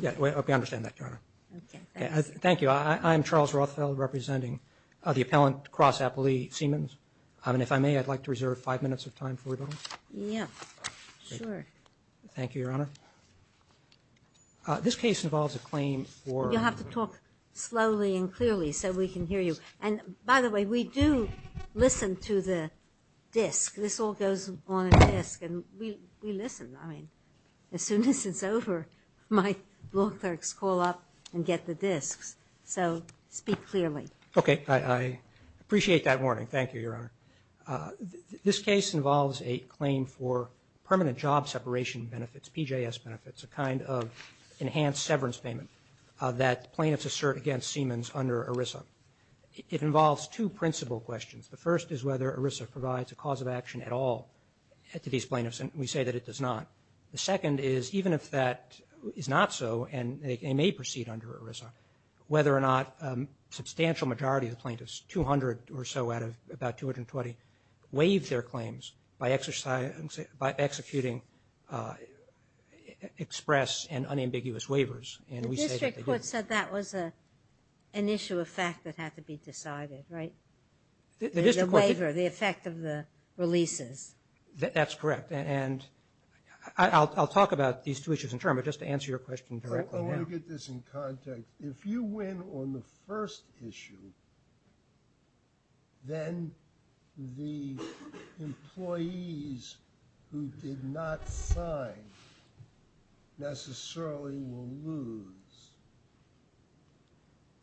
Yeah, we understand that, Your Honor. Thank you. I'm Charles Rothfeld, representing the appellant, Cross Appellee Siemens. And if I may, I'd like to reserve five minutes of time for rebuttal. Yeah, sure. Thank you, Your Honor. This case involves a claim for... You'll have to talk slowly and clearly so we can hear you. And, by the way, we do listen to the disc. This all goes on a disc, and we listen. I mean, as soon as it's over, my law clerks call up and get the discs. So speak clearly. Okay. I appreciate that warning. Thank you, Your Honor. This case involves a claim for permanent job separation benefits, PJS benefits, a kind of enhanced severance payment that plaintiffs assert against Siemens under ERISA. It involves two principal questions. The first is whether ERISA provides a cause of action at all to these plaintiffs, and we say that it does not. The second is, even if that is not so, and they may proceed under ERISA, whether or not a substantial majority of the plaintiffs, 200 or so out of about 220, waive their claims by executing express and unambiguous waivers. And we say that they do. The district court said that was an issue of fact that had to be decided, right? The waiver, the effect of the releases. That's correct. And I'll talk about these two issues in turn, but just to answer your question directly now. I want to get this in context. If you win on the first issue, then the employees who did not sign necessarily will lose.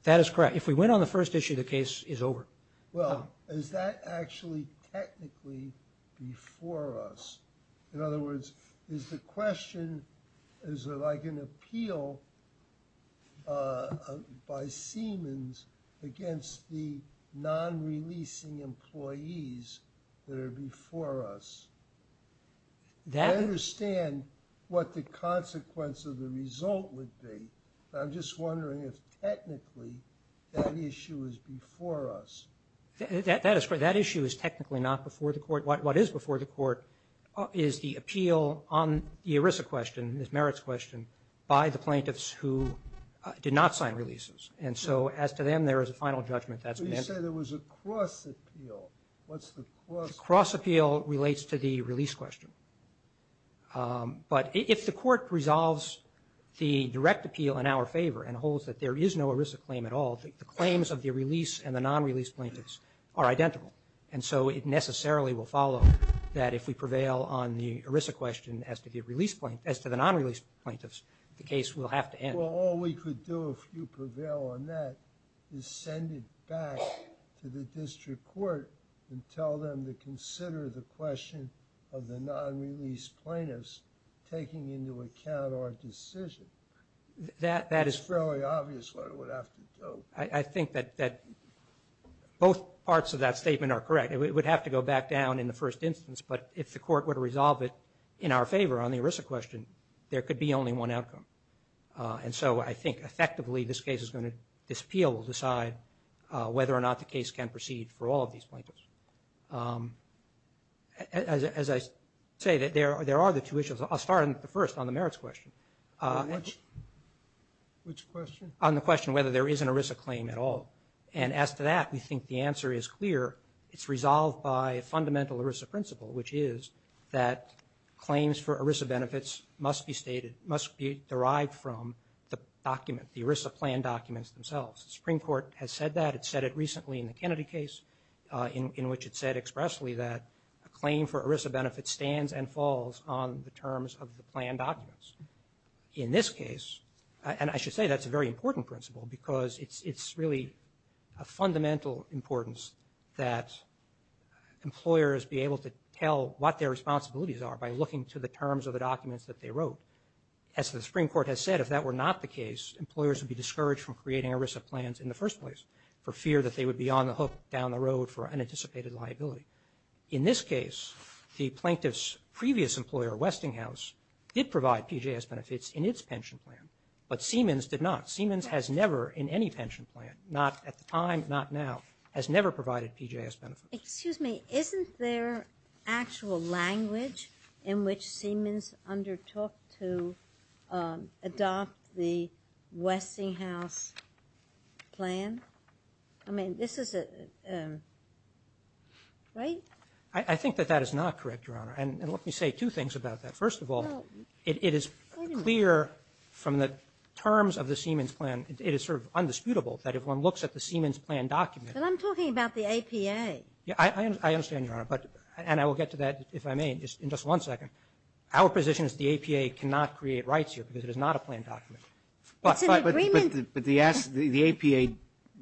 That is correct. If we win on the first issue, the case is over. Well, is that actually technically before us? In other words, is the question, is it like an appeal by Siemens against the non-releasing employees that are before us? I understand what the consequence of the result would be, but I'm just wondering if technically that issue is before us. That is correct. That issue is technically not before the court. What is before the court is the appeal on the ERISA question, this merits question, by the plaintiffs who did not sign releases. And so as to them, there is a final judgment that's been answered. But you said there was a cross appeal. What's the cross appeal? The cross appeal relates to the release question. But if the court resolves the direct appeal in our favor and holds that there is no ERISA claim at all, the claims of the release and the non-release plaintiffs are identical. And so it necessarily will follow that if we prevail on the ERISA question as to the non-release plaintiffs, the case will have to end. Well, all we could do if you prevail on that is send it back to the district court and tell them to consider the question of the non-release plaintiffs taking into account our decision. That is fairly obvious what it would have to do. I think that both parts of that statement are correct. It would have to go back down in the first instance, but if the court were to resolve it in our favor on the ERISA question, there could be only one outcome. And so I think effectively this case is going to, this appeal will decide whether or not the case can proceed for all these plaintiffs. As I say, there are the two issues. I'll start on the first, on the merits question. Which question? On the question whether there is an ERISA claim at all. And as to that, we think the answer is clear. It's resolved by a fundamental ERISA principle, which is that claims for ERISA benefits must be stated, must be derived from the document, the ERISA plan documents themselves. The Supreme Court has said that. It said it recently in the Kennedy case in which it said expressly that a claim for ERISA benefits stands and falls on the terms of the plan documents. In this case, and I should say that's a very important principle because it's really a fundamental importance that employers be able to tell what their responsibilities are by looking to the terms of the documents that they wrote. As the Supreme Court has said, if that were not the case, employers would be discouraged from creating ERISA plans in the first place for fear that they would be on the hook down the road for unanticipated liability. In this case, the plaintiff's previous employer, Westinghouse, did provide PJS benefits in its pension plan, but Siemens did not. Siemens has never in any pension plan, not at the time, not now, has never provided PJS benefits. Excuse me. Isn't there actual language in which Siemens undertook to adopt the Westinghouse plan? I mean, this is a, right? I think that that is not correct, Your Honor. And let me say two things about that. First of all, it is clear from the terms of the Siemens plan, it is sort of undisputable that if one looks at the Siemens plan document. But I'm talking about the APA. Yeah, I understand, Your Honor, but, and I will get to that if I may in just one second. Our position is the APA cannot create rights here because it is not a plan document. It's an agreement. But the APA,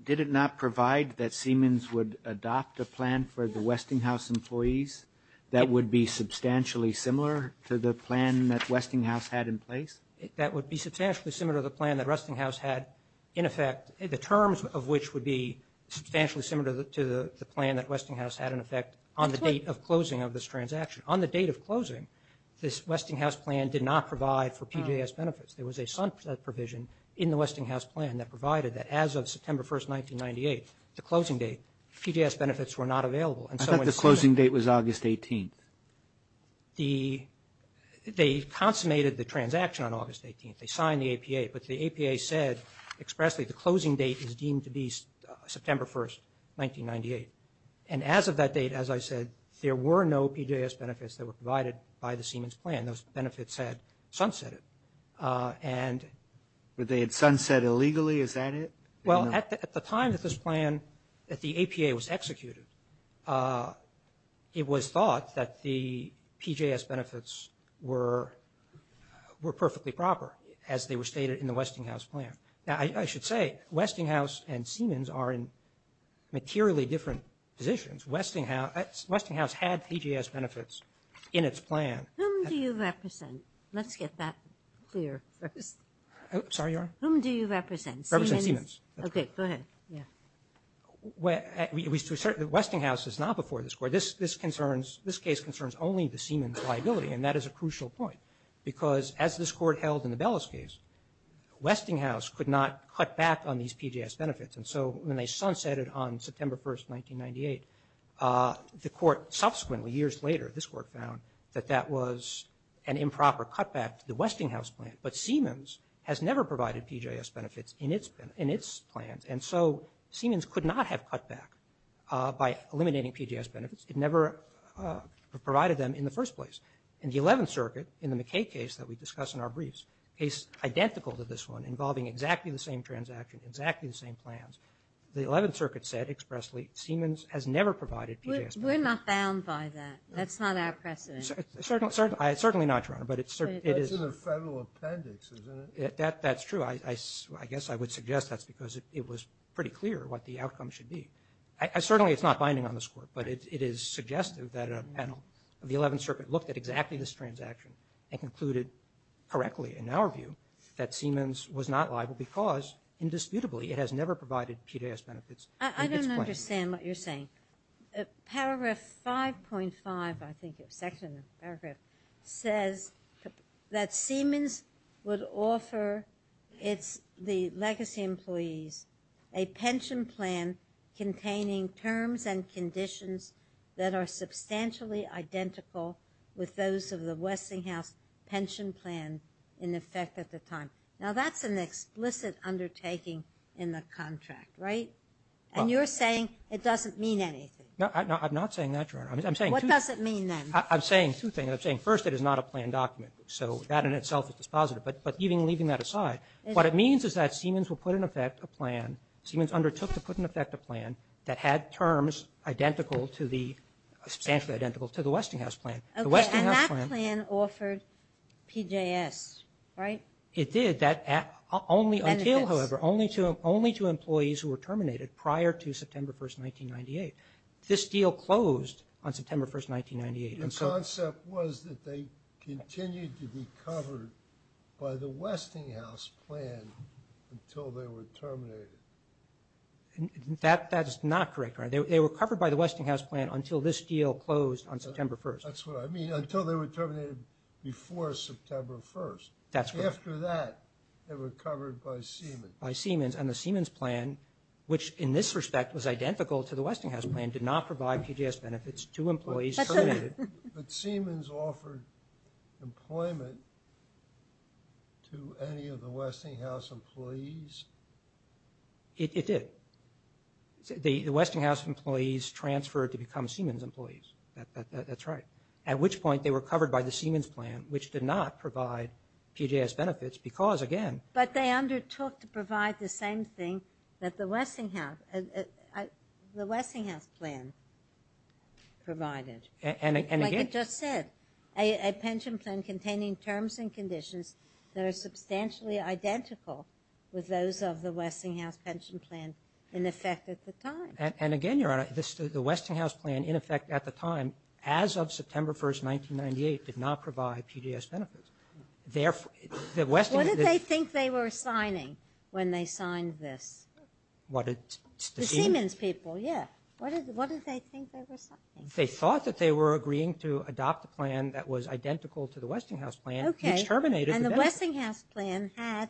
did it not provide that Siemens would adopt a plan for the Westinghouse employees that would be substantially similar to the plan that Westinghouse had in place? That would be substantially similar to the plan that Westinghouse had in effect, the terms of which would be substantially similar to the plan that Westinghouse had in effect on the date of closing of this transaction. On the date of closing, this Westinghouse plan did not provide for PJS benefits. There was a provision in the Westinghouse plan that provided that as of September 1st, 1998, the closing date, PJS benefits were not available. I thought the closing date was August 18th. They consummated the transaction on August 18th. They signed the APA. But the APA said expressly the closing date is deemed to be September 1st, 1998. And as of that date, as I said, there were no PJS benefits that were provided by the Siemens plan. Those benefits had sunsetted. But they had sunsetted illegally, is that it? Well, at the time that this plan, that the APA was executed, it was thought that the PJS benefits were perfectly proper as they were stated in the Westinghouse plan. Now Westinghouse had PJS benefits in its plan. Who do you represent? Let's get that clear first. Sorry, Your Honor? Whom do you represent? Represent Siemens. Okay, go ahead, yeah. Westinghouse is not before this Court. This concerns, this case concerns only the Siemens liability. And that is a crucial point. Because as this Court held in the Bellis case, Westinghouse could not cut back on these PJS benefits. And so when they sunsetted on September 1st, 1998, the Court subsequently, years later, this Court found that that was an improper cutback to the Westinghouse plan. But Siemens has never provided PJS benefits in its plan. And so Siemens could not have cut back by eliminating PJS benefits. It never provided them in the first place. In the 11th Circuit, in the McKay case that we discuss in our briefs, a case identical to this one, involving exactly the same transaction, exactly the same plans, the 11th Circuit said expressly, Siemens has never provided PJS benefits. We're not bound by that. That's not our precedent. Certainly not, Your Honor. But it's certain, it is. That's in the federal appendix, isn't it? That's true. I guess I would suggest that's because it was pretty clear what the outcome should be. Certainly it's not binding on this Court. But it is suggestive that a panel of the 11th Circuit looked at exactly this transaction and concluded correctly, in our view, that Siemens was not liable because, indisputably, it has never provided PJS benefits in its plan. I don't understand what you're saying. Paragraph 5.5, I think, section, paragraph, says that Siemens would offer its, the legacy employees, a pension plan containing terms and conditions that are substantially identical with those of the Westinghouse pension plan in effect at the time. Now, that's an explicit undertaking in the contract, right? And you're saying it doesn't mean anything. No, I'm not saying that, Your Honor. I'm saying two things. What does it mean, then? I'm saying two things. I'm saying, first, it is not a plan document. So that in itself is dispositive. But even leaving that aside, what it means is that Siemens will put in effect a plan, Siemens undertook to put in effect a plan that had terms identical to the, substantially identical to the Westinghouse plan. Okay, and that plan offered PJS, right? It did, that, only until, however, only to employees who were terminated prior to September 1st, 1998. This deal closed on September 1st, 1998, and so Your concept was that they continued to be covered by the Westinghouse plan until they were terminated. That is not correct, Your Honor. They were covered by the Westinghouse plan until this deal closed on September 1st. That's what I mean, until they were terminated before September 1st. That's correct. After that, they were covered by Siemens. By Siemens, and the Siemens plan, which in this respect was identical to the Westinghouse plan, did not provide PJS benefits to employees terminated. But Siemens offered employment to any of the Westinghouse employees? It did. The Westinghouse employees transferred to become Siemens employees. That's right. At which point, they were covered by the Siemens plan, which did not provide PJS benefits, because again But they undertook to provide the same thing that the Westinghouse, the Westinghouse plan provided. And again Like I just said, a pension plan containing terms and conditions that are substantially identical with those of the Westinghouse pension plan in effect at the time. And again, Your Honor, the Westinghouse plan in effect at the time, as of September 1st, 1998, did not provide PJS benefits. What did they think they were signing when they signed this? What did The Siemens people, yeah. What did they think they were signing? They thought that they were agreeing to adopt a plan that was identical to the Westinghouse plan, which terminated the benefit. The Westinghouse plan had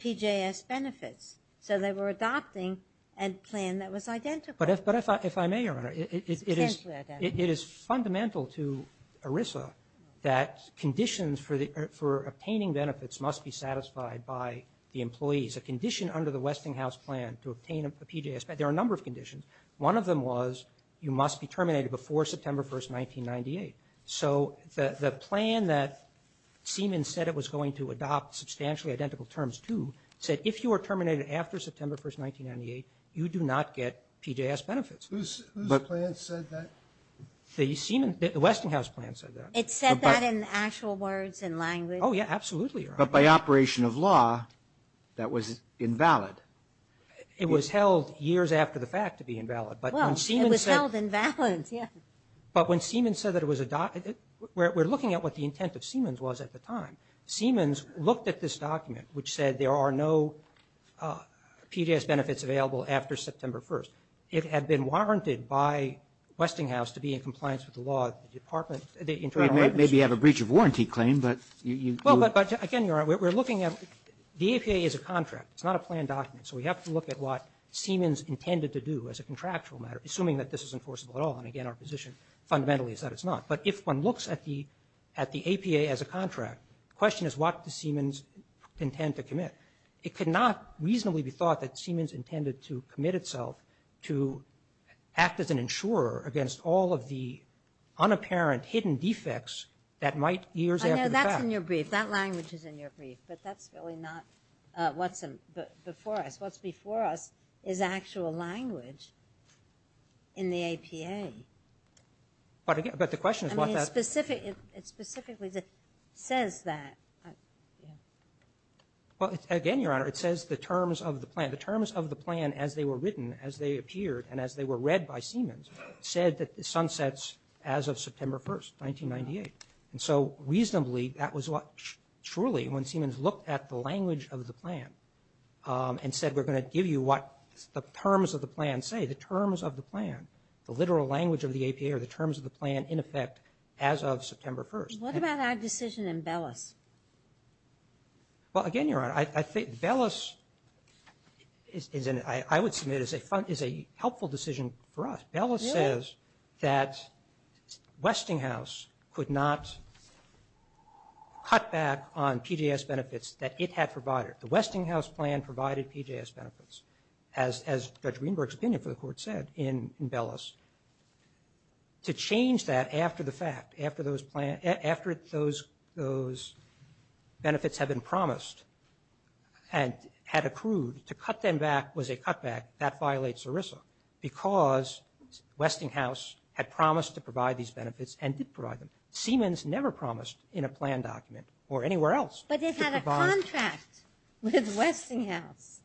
PJS benefits, so they were adopting a plan that was identical. But if I may, Your Honor, it is fundamental to ERISA that conditions for obtaining benefits must be satisfied by the employees. A condition under the Westinghouse plan to obtain a PJS benefit, there are a number of conditions. One of them was you must be terminated before September 1st, 1998. So the plan that Siemens said it was going to adopt substantially identical terms to said if you are terminated after September 1st, 1998, you do not get PJS benefits. Whose plan said that? The Siemens, the Westinghouse plan said that. It said that in actual words and language? Oh, yeah, absolutely, Your Honor. But by operation of law, that was invalid. It was held years after the fact to be invalid. Well, it was held invalid, yeah. But when Siemens said that it was adopted, we're looking at what the intent of Siemens was at the time. Siemens looked at this document, which said there are no PJS benefits available after September 1st. It had been warranted by Westinghouse to be in compliance with the law of the department, the Internal Revenue Service. Maybe you have a breach of warranty claim, but you – Well, but again, Your Honor, we're looking at – the APA is a contract. It's not a planned document. So we have to look at what Siemens intended to do as a contractual matter, assuming that this is enforceable at all. And again, our position fundamentally is that it's not. But if one looks at the APA as a contract, the question is, what does Siemens intend to commit? It could not reasonably be thought that Siemens intended to commit itself to act as an insurer against all of the unapparent, hidden defects that might years after the fact – I know that's in your brief. That language is in your brief. But that's really not what's before us. What's before us is actual language in the APA. But again – but the question is, what does – I mean, it's specific – it specifically says that. Well, again, Your Honor, it says the terms of the plan. The terms of the plan as they were written, as they appeared, and as they were read by Siemens said that the sun sets as of September 1st, 1998. And so reasonably, that was what – truly, when Siemens looked at the language of the APA, they were going to give you what the terms of the plan say. The terms of the plan, the literal language of the APA are the terms of the plan, in effect, as of September 1st. And – What about our decision in Bellis? Well, again, Your Honor, I think Bellis is an – I would submit is a helpful decision for us. Really? Bellis says that Westinghouse could not cut back on PJS benefits that it had provided. The Westinghouse plan provided PJS benefits, as Judge Greenberg's opinion for the Court said in Bellis. To change that after the fact, after those plan – after those benefits had been promised and had accrued, to cut them back was a cutback. That violates ERISA because Westinghouse had promised to provide these benefits and did provide them. Siemens never promised in a plan document or anywhere else – With Westinghouse.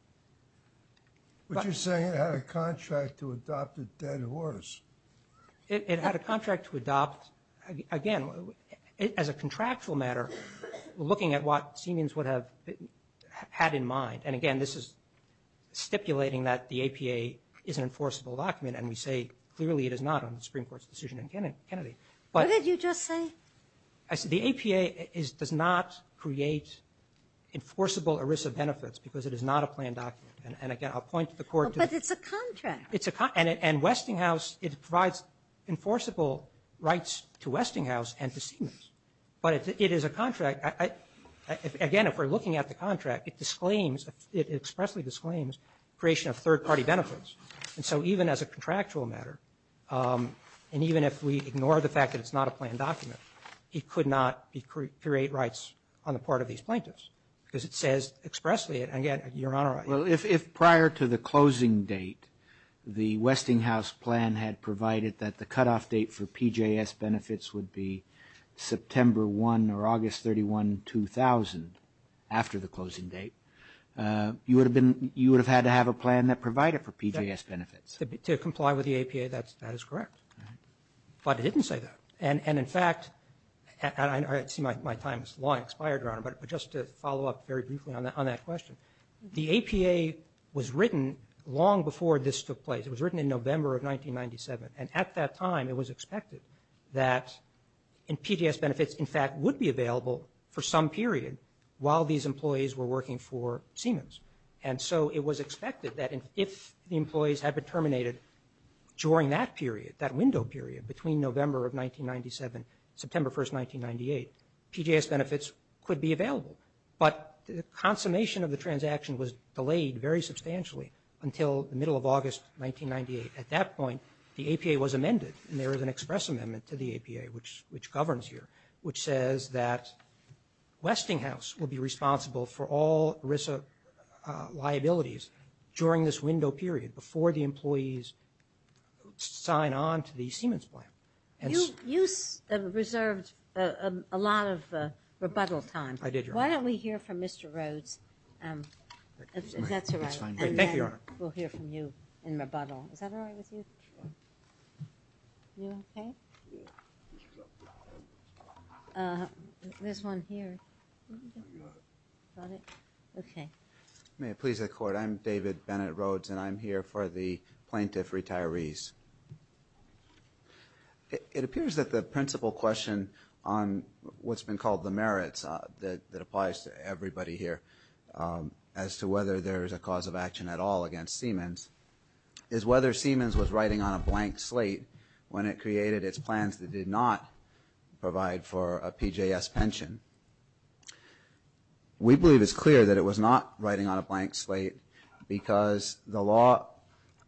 But you're saying it had a contract to adopt a dead horse. It had a contract to adopt – again, as a contractual matter, looking at what Siemens would have had in mind. And again, this is stipulating that the APA is an enforceable document, and we say clearly it is not on the Supreme Court's decision in Kennedy. But – What did you just say? The APA does not create enforceable ERISA benefits because it is not a plan document. And again, I'll point to the Court – But it's a contract. It's a – and Westinghouse – it provides enforceable rights to Westinghouse and to Siemens. But it is a contract – again, if we're looking at the contract, it disclaims – it expressly disclaims creation of third-party benefits. And so even as a contractual matter, and even if we ignore the fact that it's not a plan document, it could not create rights on the part of these plaintiffs because it says expressly – and again, Your Honor – Well, if prior to the closing date, the Westinghouse plan had provided that the cutoff date for PJS benefits would be September 1 or August 31, 2000, after the closing date, you would have been – you would have had to have a plan that provided for PJS benefits. To comply with the APA, that is correct. But it didn't say that. And in fact – and I see my time is long expired, Your Honor, but just to follow up very briefly on that question, the APA was written long before this took place. It was written in November of 1997. And at that time, it was expected that PJS benefits, in fact, would be available for some period while these employees were working for Siemens. And so it was expected that if the employees had been terminated during that period, that was September 1, 1997, September 1, 1998, PJS benefits could be available. But the consummation of the transaction was delayed very substantially until the middle of August 1998. At that point, the APA was amended, and there is an express amendment to the APA, which governs here, which says that Westinghouse will be responsible for all ERISA liabilities during this window period, before the employees sign on to the Siemens plan. You reserved a lot of rebuttal time. I did, Your Honor. Why don't we hear from Mr. Rhodes, if that's all right. Thank you, Your Honor. And then we'll hear from you in rebuttal. Is that all right with you? Sure. You okay? Yeah. There's one here. You got it? Got it? Okay. May it please the Court, I'm David Bennett Rhodes, and I'm here for the plaintiff retirees. It appears that the principal question on what's been called the merits that applies to everybody here, as to whether there is a cause of action at all against Siemens, is whether Siemens was writing on a blank slate when it created its plans that did not provide for a PJS pension. We believe it's clear that it was not writing on a blank slate, because the law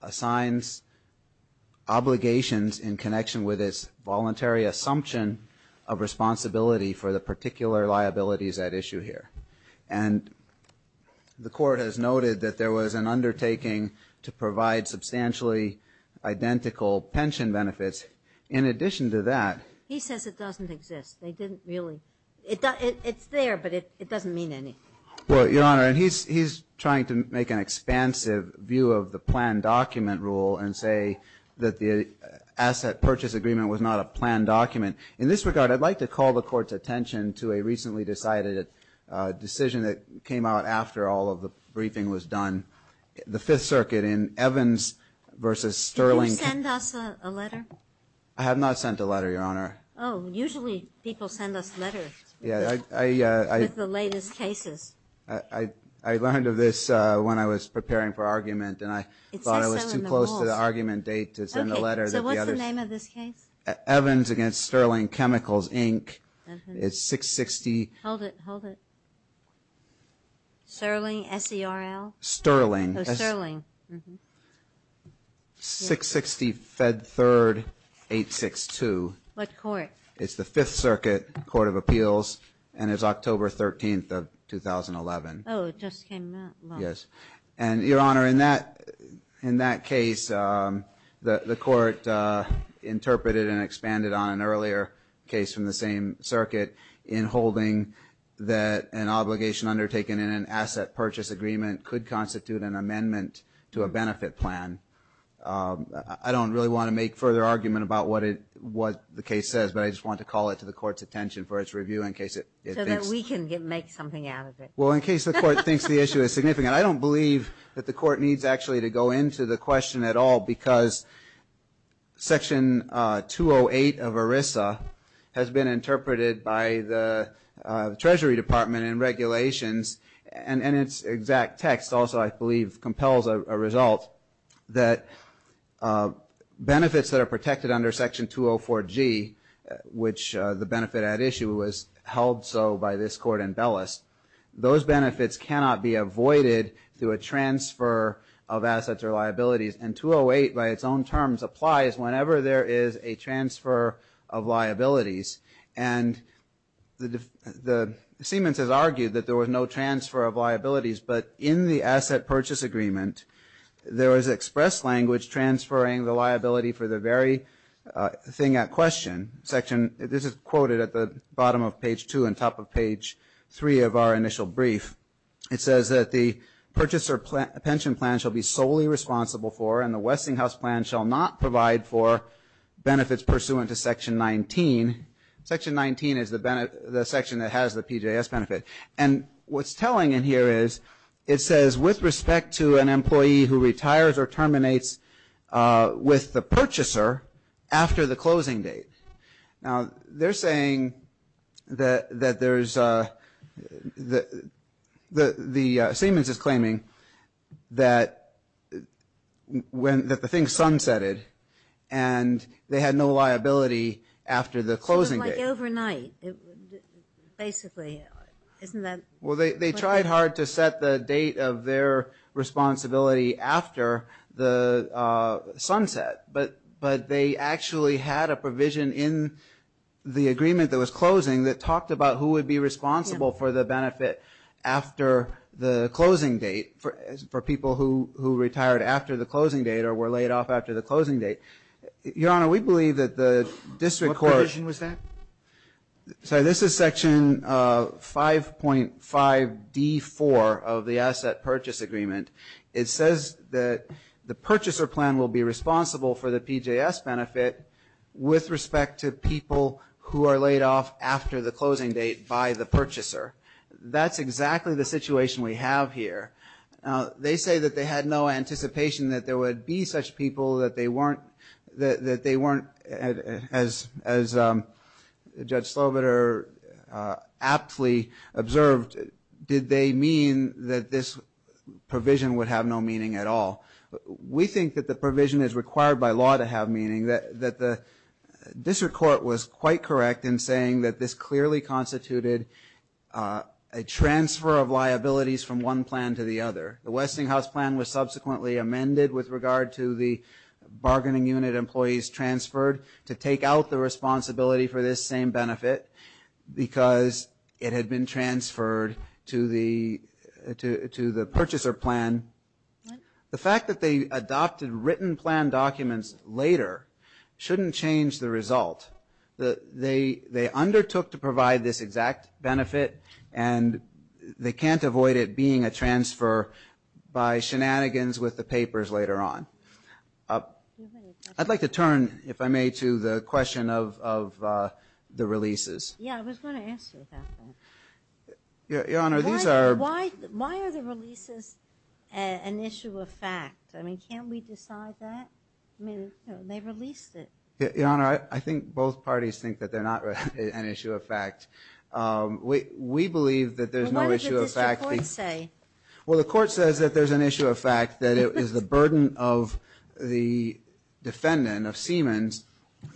assigns obligations in connection with its voluntary assumption of responsibility for the particular liabilities at issue here. And the Court has noted that there was an undertaking to provide substantially identical pension benefits. In addition to that... He says it doesn't exist. They didn't really... It's there, but it doesn't mean anything. Well, Your Honor, and he's trying to make an expansive view of the planned document rule, and say that the asset purchase agreement was not a planned document. In this regard, I'd like to call the Court's attention to a recently decided decision that came out after all of the briefing was done. The Fifth Circuit in Evans v. Sterling... Did you send us a letter? I have not sent a letter, Your Honor. Oh, usually people send us letters with the latest cases. I learned of this when I was preparing for argument, and I thought I was too close to the argument date to send a letter. Okay, so what's the name of this case? Evans v. Sterling Chemicals, Inc. It's 660... Hold it, hold it. Sterling? S-E-R-L? Sterling. Oh, Sterling. 660 Fed Third 862. What court? It's the Fifth Circuit Court of Appeals, and it's October 13th of 2011. Oh, it just came out last week. Yes. And, Your Honor, in that case, the Court interpreted and expanded on an earlier case from the same circuit in holding that an obligation undertaken in an asset purchase agreement could constitute an amendment to a benefit plan. I don't really want to make further argument about what the case says, but I just want to call it to the Court's attention for its review in case it thinks... So that we can make something out of it. Well, in case the Court thinks the issue is significant. I don't believe that the Court needs actually to go into the question at all because Section 208 of ERISA has been interpreted by the Treasury Department in regulations, and its exact text also, I believe, compels a result that benefits that are protected under Section 204G, which the benefit at issue was held so by this Court in Bellis, those benefits cannot be avoided through a transfer of assets or liabilities. And 208, by its own terms, applies whenever there is a transfer of liabilities. And Siemens has argued that there was no transfer of liabilities, but in the asset purchase agreement, there is express language transferring the liability for the very thing at question. This is quoted at the bottom of page two and top of page three of our initial brief. It says that the purchaser pension plan shall be solely responsible for, and the Westinghouse plan shall not provide for, benefits pursuant to Section 19. Section 19 is the section that has the PJS benefit. And what's telling in here is it says, with respect to an employee who retires or terminates with the purchaser after the closing date. Now, they're saying that Siemens is claiming that the thing sunsetted and they had no liability after the closing date. Sort of like overnight, basically, isn't that? Well, they tried hard to set the date of their responsibility after the sunset, but they actually had a provision in the agreement that was closing that talked about who would be responsible for the benefit after the closing date, for people who retired after the closing date or were laid off after the closing date. Your Honor, we believe that the district court... What provision was that? Sorry, this is Section 5.5D4 of the asset purchase agreement. It says that the purchaser plan will be responsible for the PJS benefit with respect to people who are laid off after the closing date by the purchaser. That's exactly the situation we have here. They say that they had no anticipation that there would be such people that they weren't, that they weren't, as Judge Slobider aptly observed, did they mean that this provision would have no meaning at all. We think that the provision is required by law to have meaning. That the district court was quite correct in saying that this clearly constituted a transfer of liabilities from one plan to the other. The Westinghouse plan was subsequently amended with regard to the bargaining unit employees transferred to take out the responsibility for this same benefit because it had been transferred to the purchaser plan. The fact that they adopted written plan documents later shouldn't change the result. They undertook to provide this exact benefit and they can't avoid it being a transfer by shenanigans with the papers later on. I'd like to turn, if I may, to the question of the releases. Yeah, I was going to ask you about that. Your Honor, these are... Why are the releases an issue of fact? I mean, can't we decide that? I mean, they released it. Your Honor, I think both parties think that they're not an issue of fact. We believe that there's no issue of fact. Well, the court says that there's an issue of fact, that it is the burden of the defendant, of Siemens,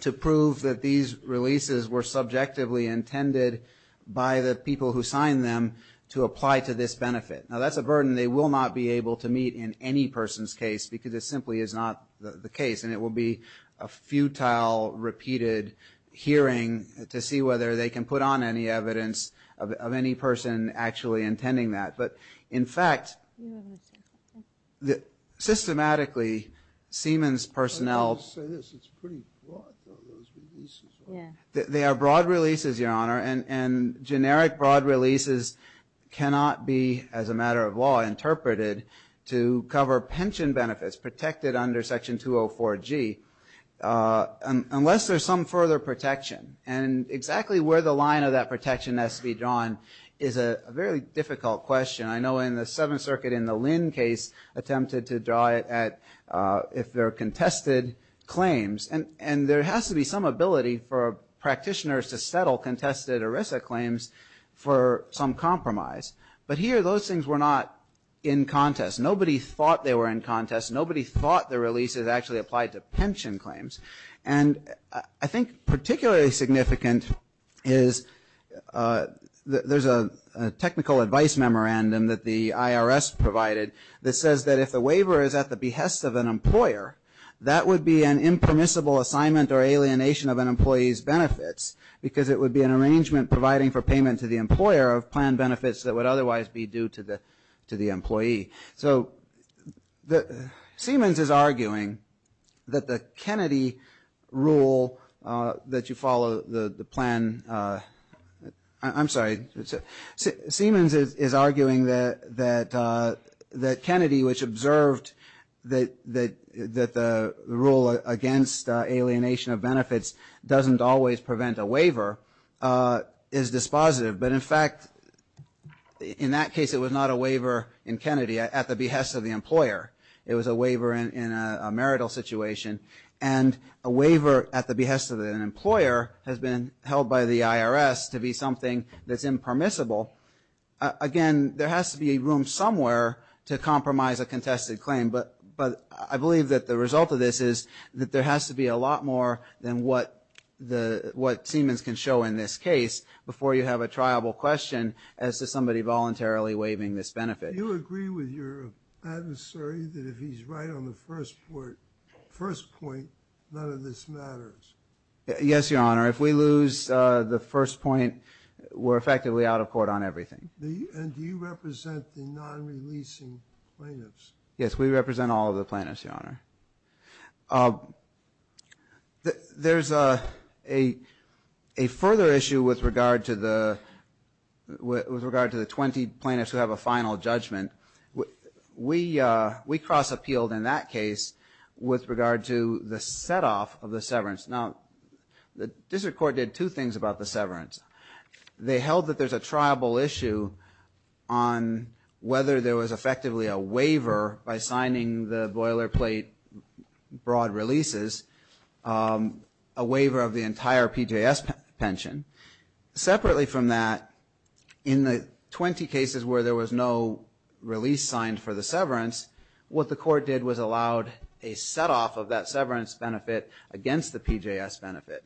to prove that these releases were subjectively intended by the people who signed them to apply to this benefit. Now, that's a burden they will not be able to meet in any person's case because it simply is not the case, and it will be a futile, repeated hearing to see whether they can put on any evidence of any person actually intending that. But, in fact, systematically, Siemens personnel... Let me just say this. It's pretty broad, though, those releases. Yeah. They are broad releases, Your Honor, and generic broad releases cannot be, as a matter of law, interpreted to cover pension benefits protected under Section 204G unless there's some further protection. And exactly where the line of that protection has to be drawn is a very difficult question. I know in the Seventh Circuit, in the Lynn case, attempted to draw it at if they're contested claims. And there has to be some ability for practitioners to settle contested ERISA claims for some compromise. But here, those things were not in contest. Nobody thought they were in contest. Nobody thought the releases actually applied to pension claims. And I think particularly significant is there's a technical advice memorandum that the IRS provided that says that if the waiver is at the behest of an employer, that would be an impermissible assignment or alienation of an employee's benefits because it would be an arrangement providing for payment to the employer of planned benefits that would otherwise be due to the employee. So Siemens is arguing that the Kennedy rule that you follow the plan, I'm sorry, Siemens is arguing that Kennedy, which observed that the rule against alienation of benefits doesn't always prevent a waiver, is dispositive. But in fact, in that case, it was not a waiver in Kennedy at the behest of the employer. It was a waiver in a marital situation. And a waiver at the behest of an employer has been held by the IRS to be something that's impermissible. Again, there has to be room somewhere to compromise a contested claim. But I believe that the result of this is that there has to be a lot more than what Siemens can show in this case before you have a triable question as to somebody voluntarily waiving this benefit. Do you agree with your adversary that if he's right on the first point, none of this matters? Yes, Your Honor. If we lose the first point, we're effectively out of court on everything. And do you represent the non-releasing plaintiffs? Yes, we represent all of the plaintiffs, Your Honor. There's a further issue with regard to the 20 plaintiffs who have a final judgment. We cross-appealed in that case with regard to the set-off of the severance. Now, the district court did two things about the severance. They held that there's a triable issue on whether there was effectively a waiver by signing the boilerplate broad releases, a waiver of the entire PJS pension. Separately from that, in the 20 cases where there was no release signed for the severance, what the court did was allowed a set-off of that severance benefit against the PJS benefit.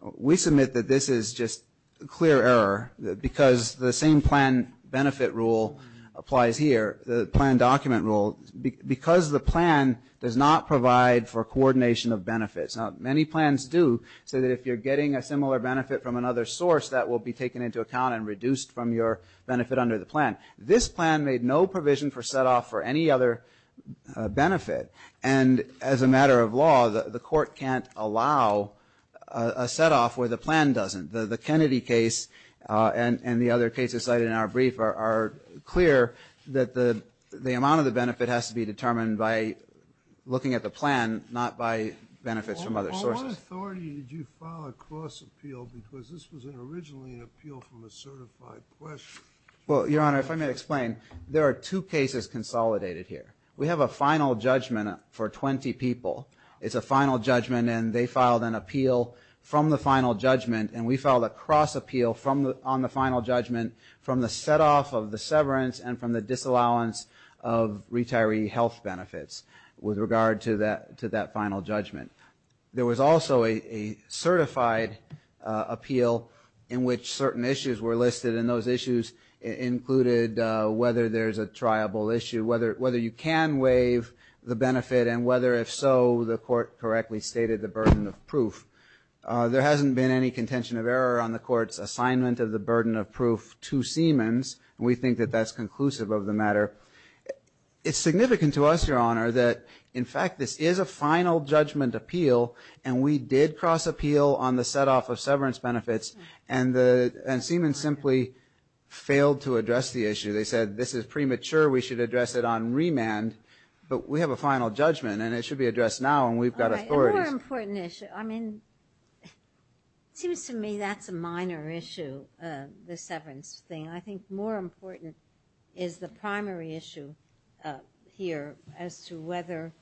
We submit that this is just clear error because the same plan benefit rule applies here, the plan document rule, because the plan does not provide for coordination of benefits. Now, many plans do so that if you're getting a similar benefit from another source, that will be taken into account and reduced from your benefit under the plan. This plan made no provision for set-off for any other benefit. And as a matter of law, the court can't allow a set-off where the plan doesn't. The Kennedy case and the other cases cited in our brief are clear that the amount of the benefit has to be determined by looking at the plan, not by benefits from other sources. What authority did you file a cross-appeal because this was originally an appeal from a certified question? Well, Your Honor, if I may explain, there are two cases consolidated here. We have a final judgment for 20 people. It's a final judgment, and they filed an appeal from the final judgment, and we filed a cross-appeal on the final judgment from the set-off of the severance and from the disallowance of retiree health benefits with regard to that final judgment. There was also a certified appeal in which certain issues were listed, and those can waive the benefit and whether, if so, the court correctly stated the burden of proof. There hasn't been any contention of error on the court's assignment of the burden of proof to Siemens, and we think that that's conclusive of the matter. It's significant to us, Your Honor, that, in fact, this is a final judgment appeal, and we did cross-appeal on the set-off of severance benefits, and Siemens simply failed to address the issue. They said, this is premature. We should address it on remand, but we have a final judgment, and it should be addressed now, and we've got authorities. All right. A more important issue. I mean, it seems to me that's a minor issue, the severance thing. I think more important is the primary issue here as to whether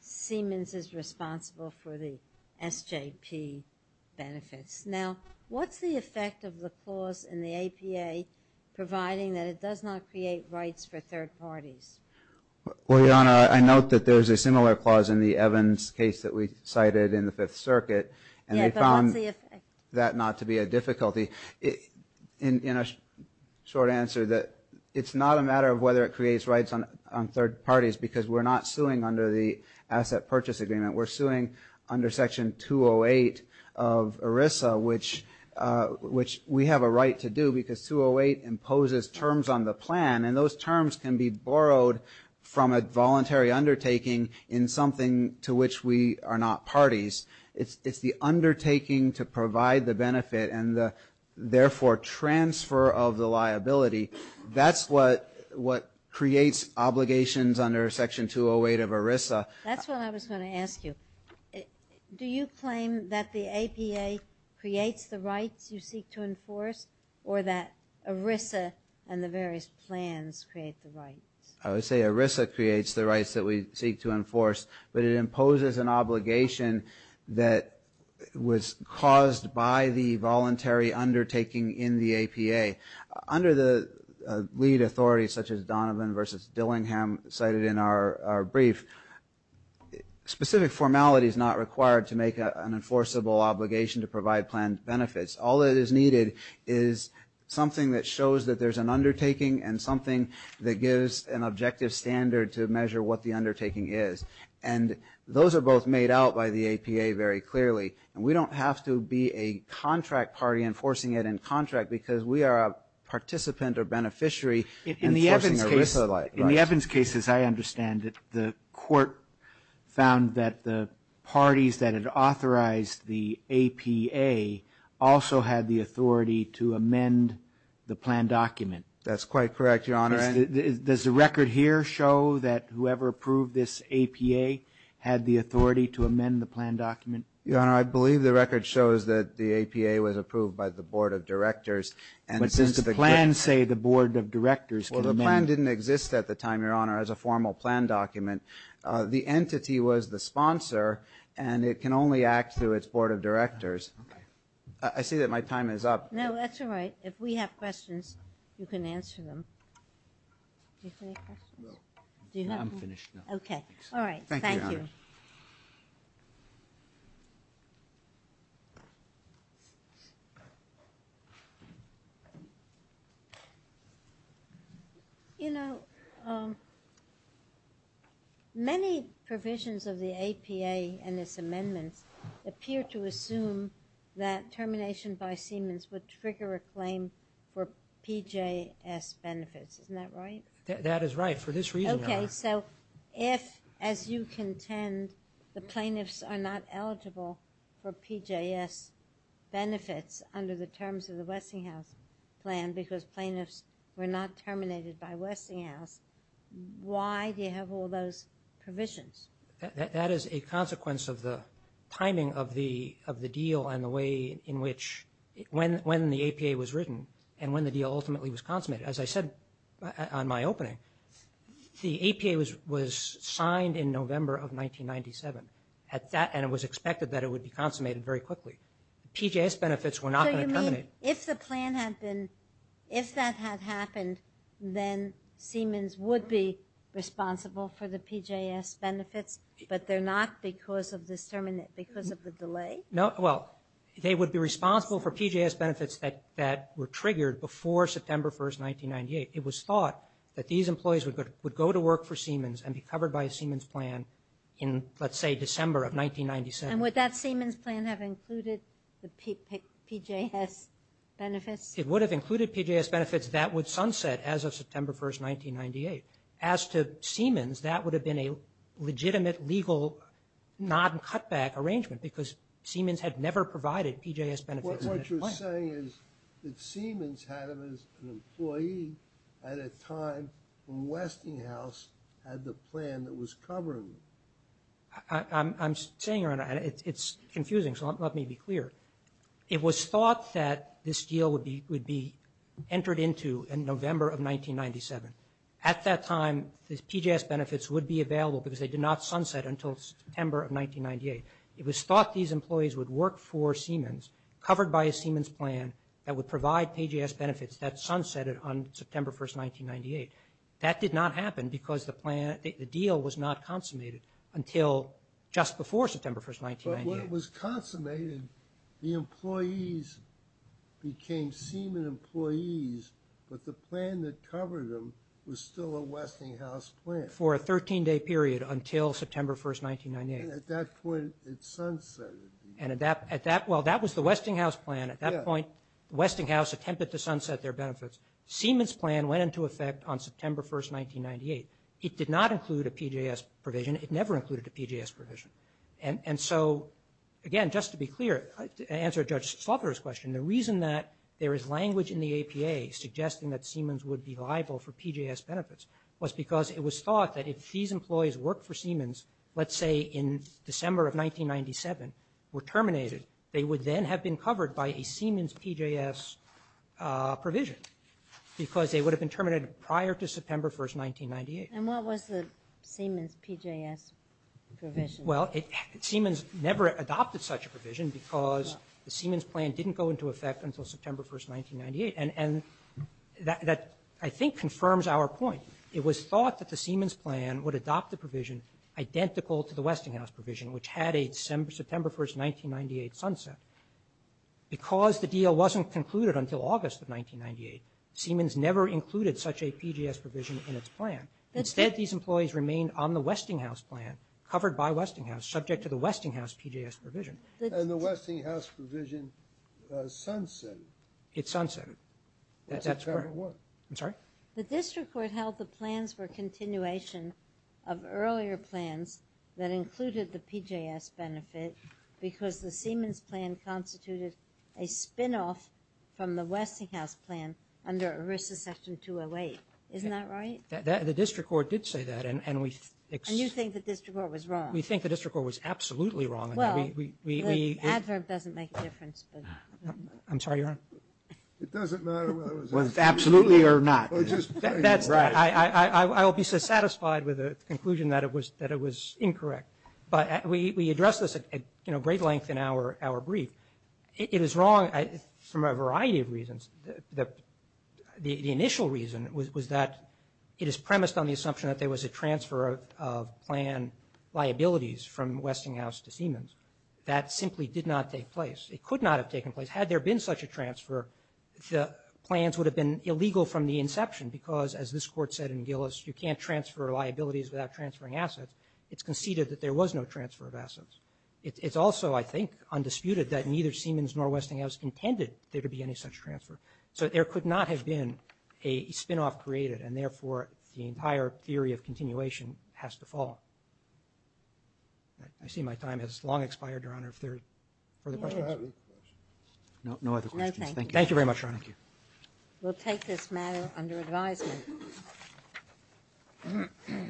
Siemens is responsible for the SJP benefits. Now, what's the effect of the clause in the APA providing that it does not create rights for third parties? Well, Your Honor, I note that there's a similar clause in the Evans case that we cited in the Fifth Circuit, and they found that not to be a difficulty. In a short answer, it's not a matter of whether it creates rights on third parties because we're not suing under the asset purchase agreement. We're suing under Section 208 of ERISA, which we have a right to do because 208 imposes terms on the plan, and those terms can be borrowed from a voluntary undertaking in something to which we are not parties. It's the undertaking to provide the benefit and the, therefore, transfer of the liability. That's what creates obligations under Section 208 of ERISA. That's what I was going to ask you. Do you claim that the APA creates the rights you seek to enforce or that ERISA and the various plans create the rights? I would say ERISA creates the rights that we seek to enforce, but it imposes an obligation that was caused by the voluntary undertaking in the APA. Under the lead authority, such as Donovan versus Dillingham cited in our brief, specific formality is not required to make an enforceable obligation to provide plan benefits. All that is needed is something that shows that there's an undertaking and something that gives an objective standard to measure what the undertaking is, and those are both made out by the APA very clearly. We don't have to be a contract party enforcing it in contract because we are a participant or beneficiary enforcing ERISA. In the Evans case, as I understand it, the court found that the parties that had authorized the APA also had the authority to amend the plan document. That's quite correct, Your Honor. Does the record here show that whoever approved this APA had the authority to amend the plan document? Your Honor, I believe the record shows that the APA was approved by the board of directors. Well, the plan didn't exist at the time, Your Honor, as a formal plan document. The entity was the sponsor, and it can only act through its board of directors. I see that my time is up. No, that's all right. If we have questions, you can answer them. Do you have any questions? Okay. All right. Thank you. Thank you, Your Honor. You know, many provisions of the APA and its amendments appear to assume that termination by Siemens would trigger a claim for PJS benefits. Isn't that right? So if, as you contend, the plaintiffs are not eligible for PJS benefits under the terms of the Westinghouse plan because plaintiffs were not terminated by Westinghouse, why do you have all those provisions? That is a consequence of the timing of the deal and the way in which when the APA was written and when the deal ultimately was consummated. As I said on my opening, the APA was signed in November of 1997, and it was expected that it would be consummated very quickly. PJS benefits were not going to terminate. So you mean if the plan had been, if that had happened, then Siemens would be responsible for the PJS benefits, but they're not because of the delay? No. Well, they would be responsible for PJS benefits that were triggered before September 1st, 1998. It was thought that these employees would go to work for Siemens and be covered by a Siemens plan in, let's say, December of 1997. And would that Siemens plan have included the PJS benefits? It would have included PJS benefits. That would sunset as of September 1st, 1998. As to Siemens, that would have been a legitimate, legal, non-cutback arrangement because Siemens had never provided PJS benefits in its plan. What you're saying is that Siemens had it as an employee at a time when Westinghouse had the plan that was covering them. I'm saying it's confusing, so let me be clear. It was thought that this deal would be entered into in November of 1997. At that time, the PJS benefits would be available because they did not sunset until September of 1998. It was thought these employees would work for Siemens, covered by a Siemens plan that would provide PJS benefits that sunsetted on September 1st, 1998. That did not happen because the deal was not consummated until just before September 1st, 1998. But when it was consummated, the employees became Siemen employees, but the plan that covered them was still a Westinghouse plan. For a 13-day period until September 1st, 1998. And at that point, it sunsetted. Well, that was the Westinghouse plan. At that point, Westinghouse attempted to sunset their benefits. Siemens' plan went into effect on September 1st, 1998. It did not include a PJS provision. It never included a PJS provision. And so, again, just to be clear, to answer Judge Slaughter's question, the reason that there is language in the APA suggesting that Siemens would be liable for PJS benefits was because it was thought that if these employees worked for Siemens, let's say in December of 1997, were terminated, they would then have been covered by a Siemens PJS provision because they would have been terminated prior to September 1st, 1998. And what was the Siemens PJS provision? Well, Siemens never adopted such a provision because the Siemens plan didn't go into effect until September 1st, 1998. And that, I think, confirms our point. It was thought that the Siemens plan would adopt a provision identical to the Westinghouse provision, which had a September 1st, 1998 sunset. Because the deal wasn't concluded until August of 1998, Siemens never included such a PJS provision in its plan. Instead, these employees remained on the Westinghouse plan, covered by Westinghouse, subject to the Westinghouse PJS provision. And the Westinghouse provision sunsetted. It sunsetted. That's correct. I'm sorry? The district court held the plans for continuation of earlier plans that included the PJS benefit because the Siemens plan constituted a spin-off from the Westinghouse plan under ERISA section 208. Isn't that right? The district court did say that. And you think the district court was wrong? We think the district court was absolutely wrong. Well, the adverb doesn't make a difference. I'm sorry, Your Honor? It doesn't matter whether it was absolutely or not. I will be satisfied with the conclusion that it was incorrect. But we addressed this at great length in our brief. It is wrong for a variety of reasons. The initial reason was that it is premised on the assumption that there was a transfer of plan liabilities from Westinghouse to Siemens. That simply did not take place. It could not have taken place. Had there been such a transfer, the plans would have been illegal from the inception because, as this court said in Gillis, you can't transfer liabilities without transferring assets. It's conceded that there was no transfer of assets. It's also, I think, undisputed that neither Siemens nor Westinghouse intended there to be any such transfer. So there could not have been a spin-off created, and therefore the entire theory of continuation has to fall. I see my time has long expired, Your Honor. If there are further questions? No other questions. Thank you. Thank you very much, Your Honor. Thank you. We'll take this matter under advisement.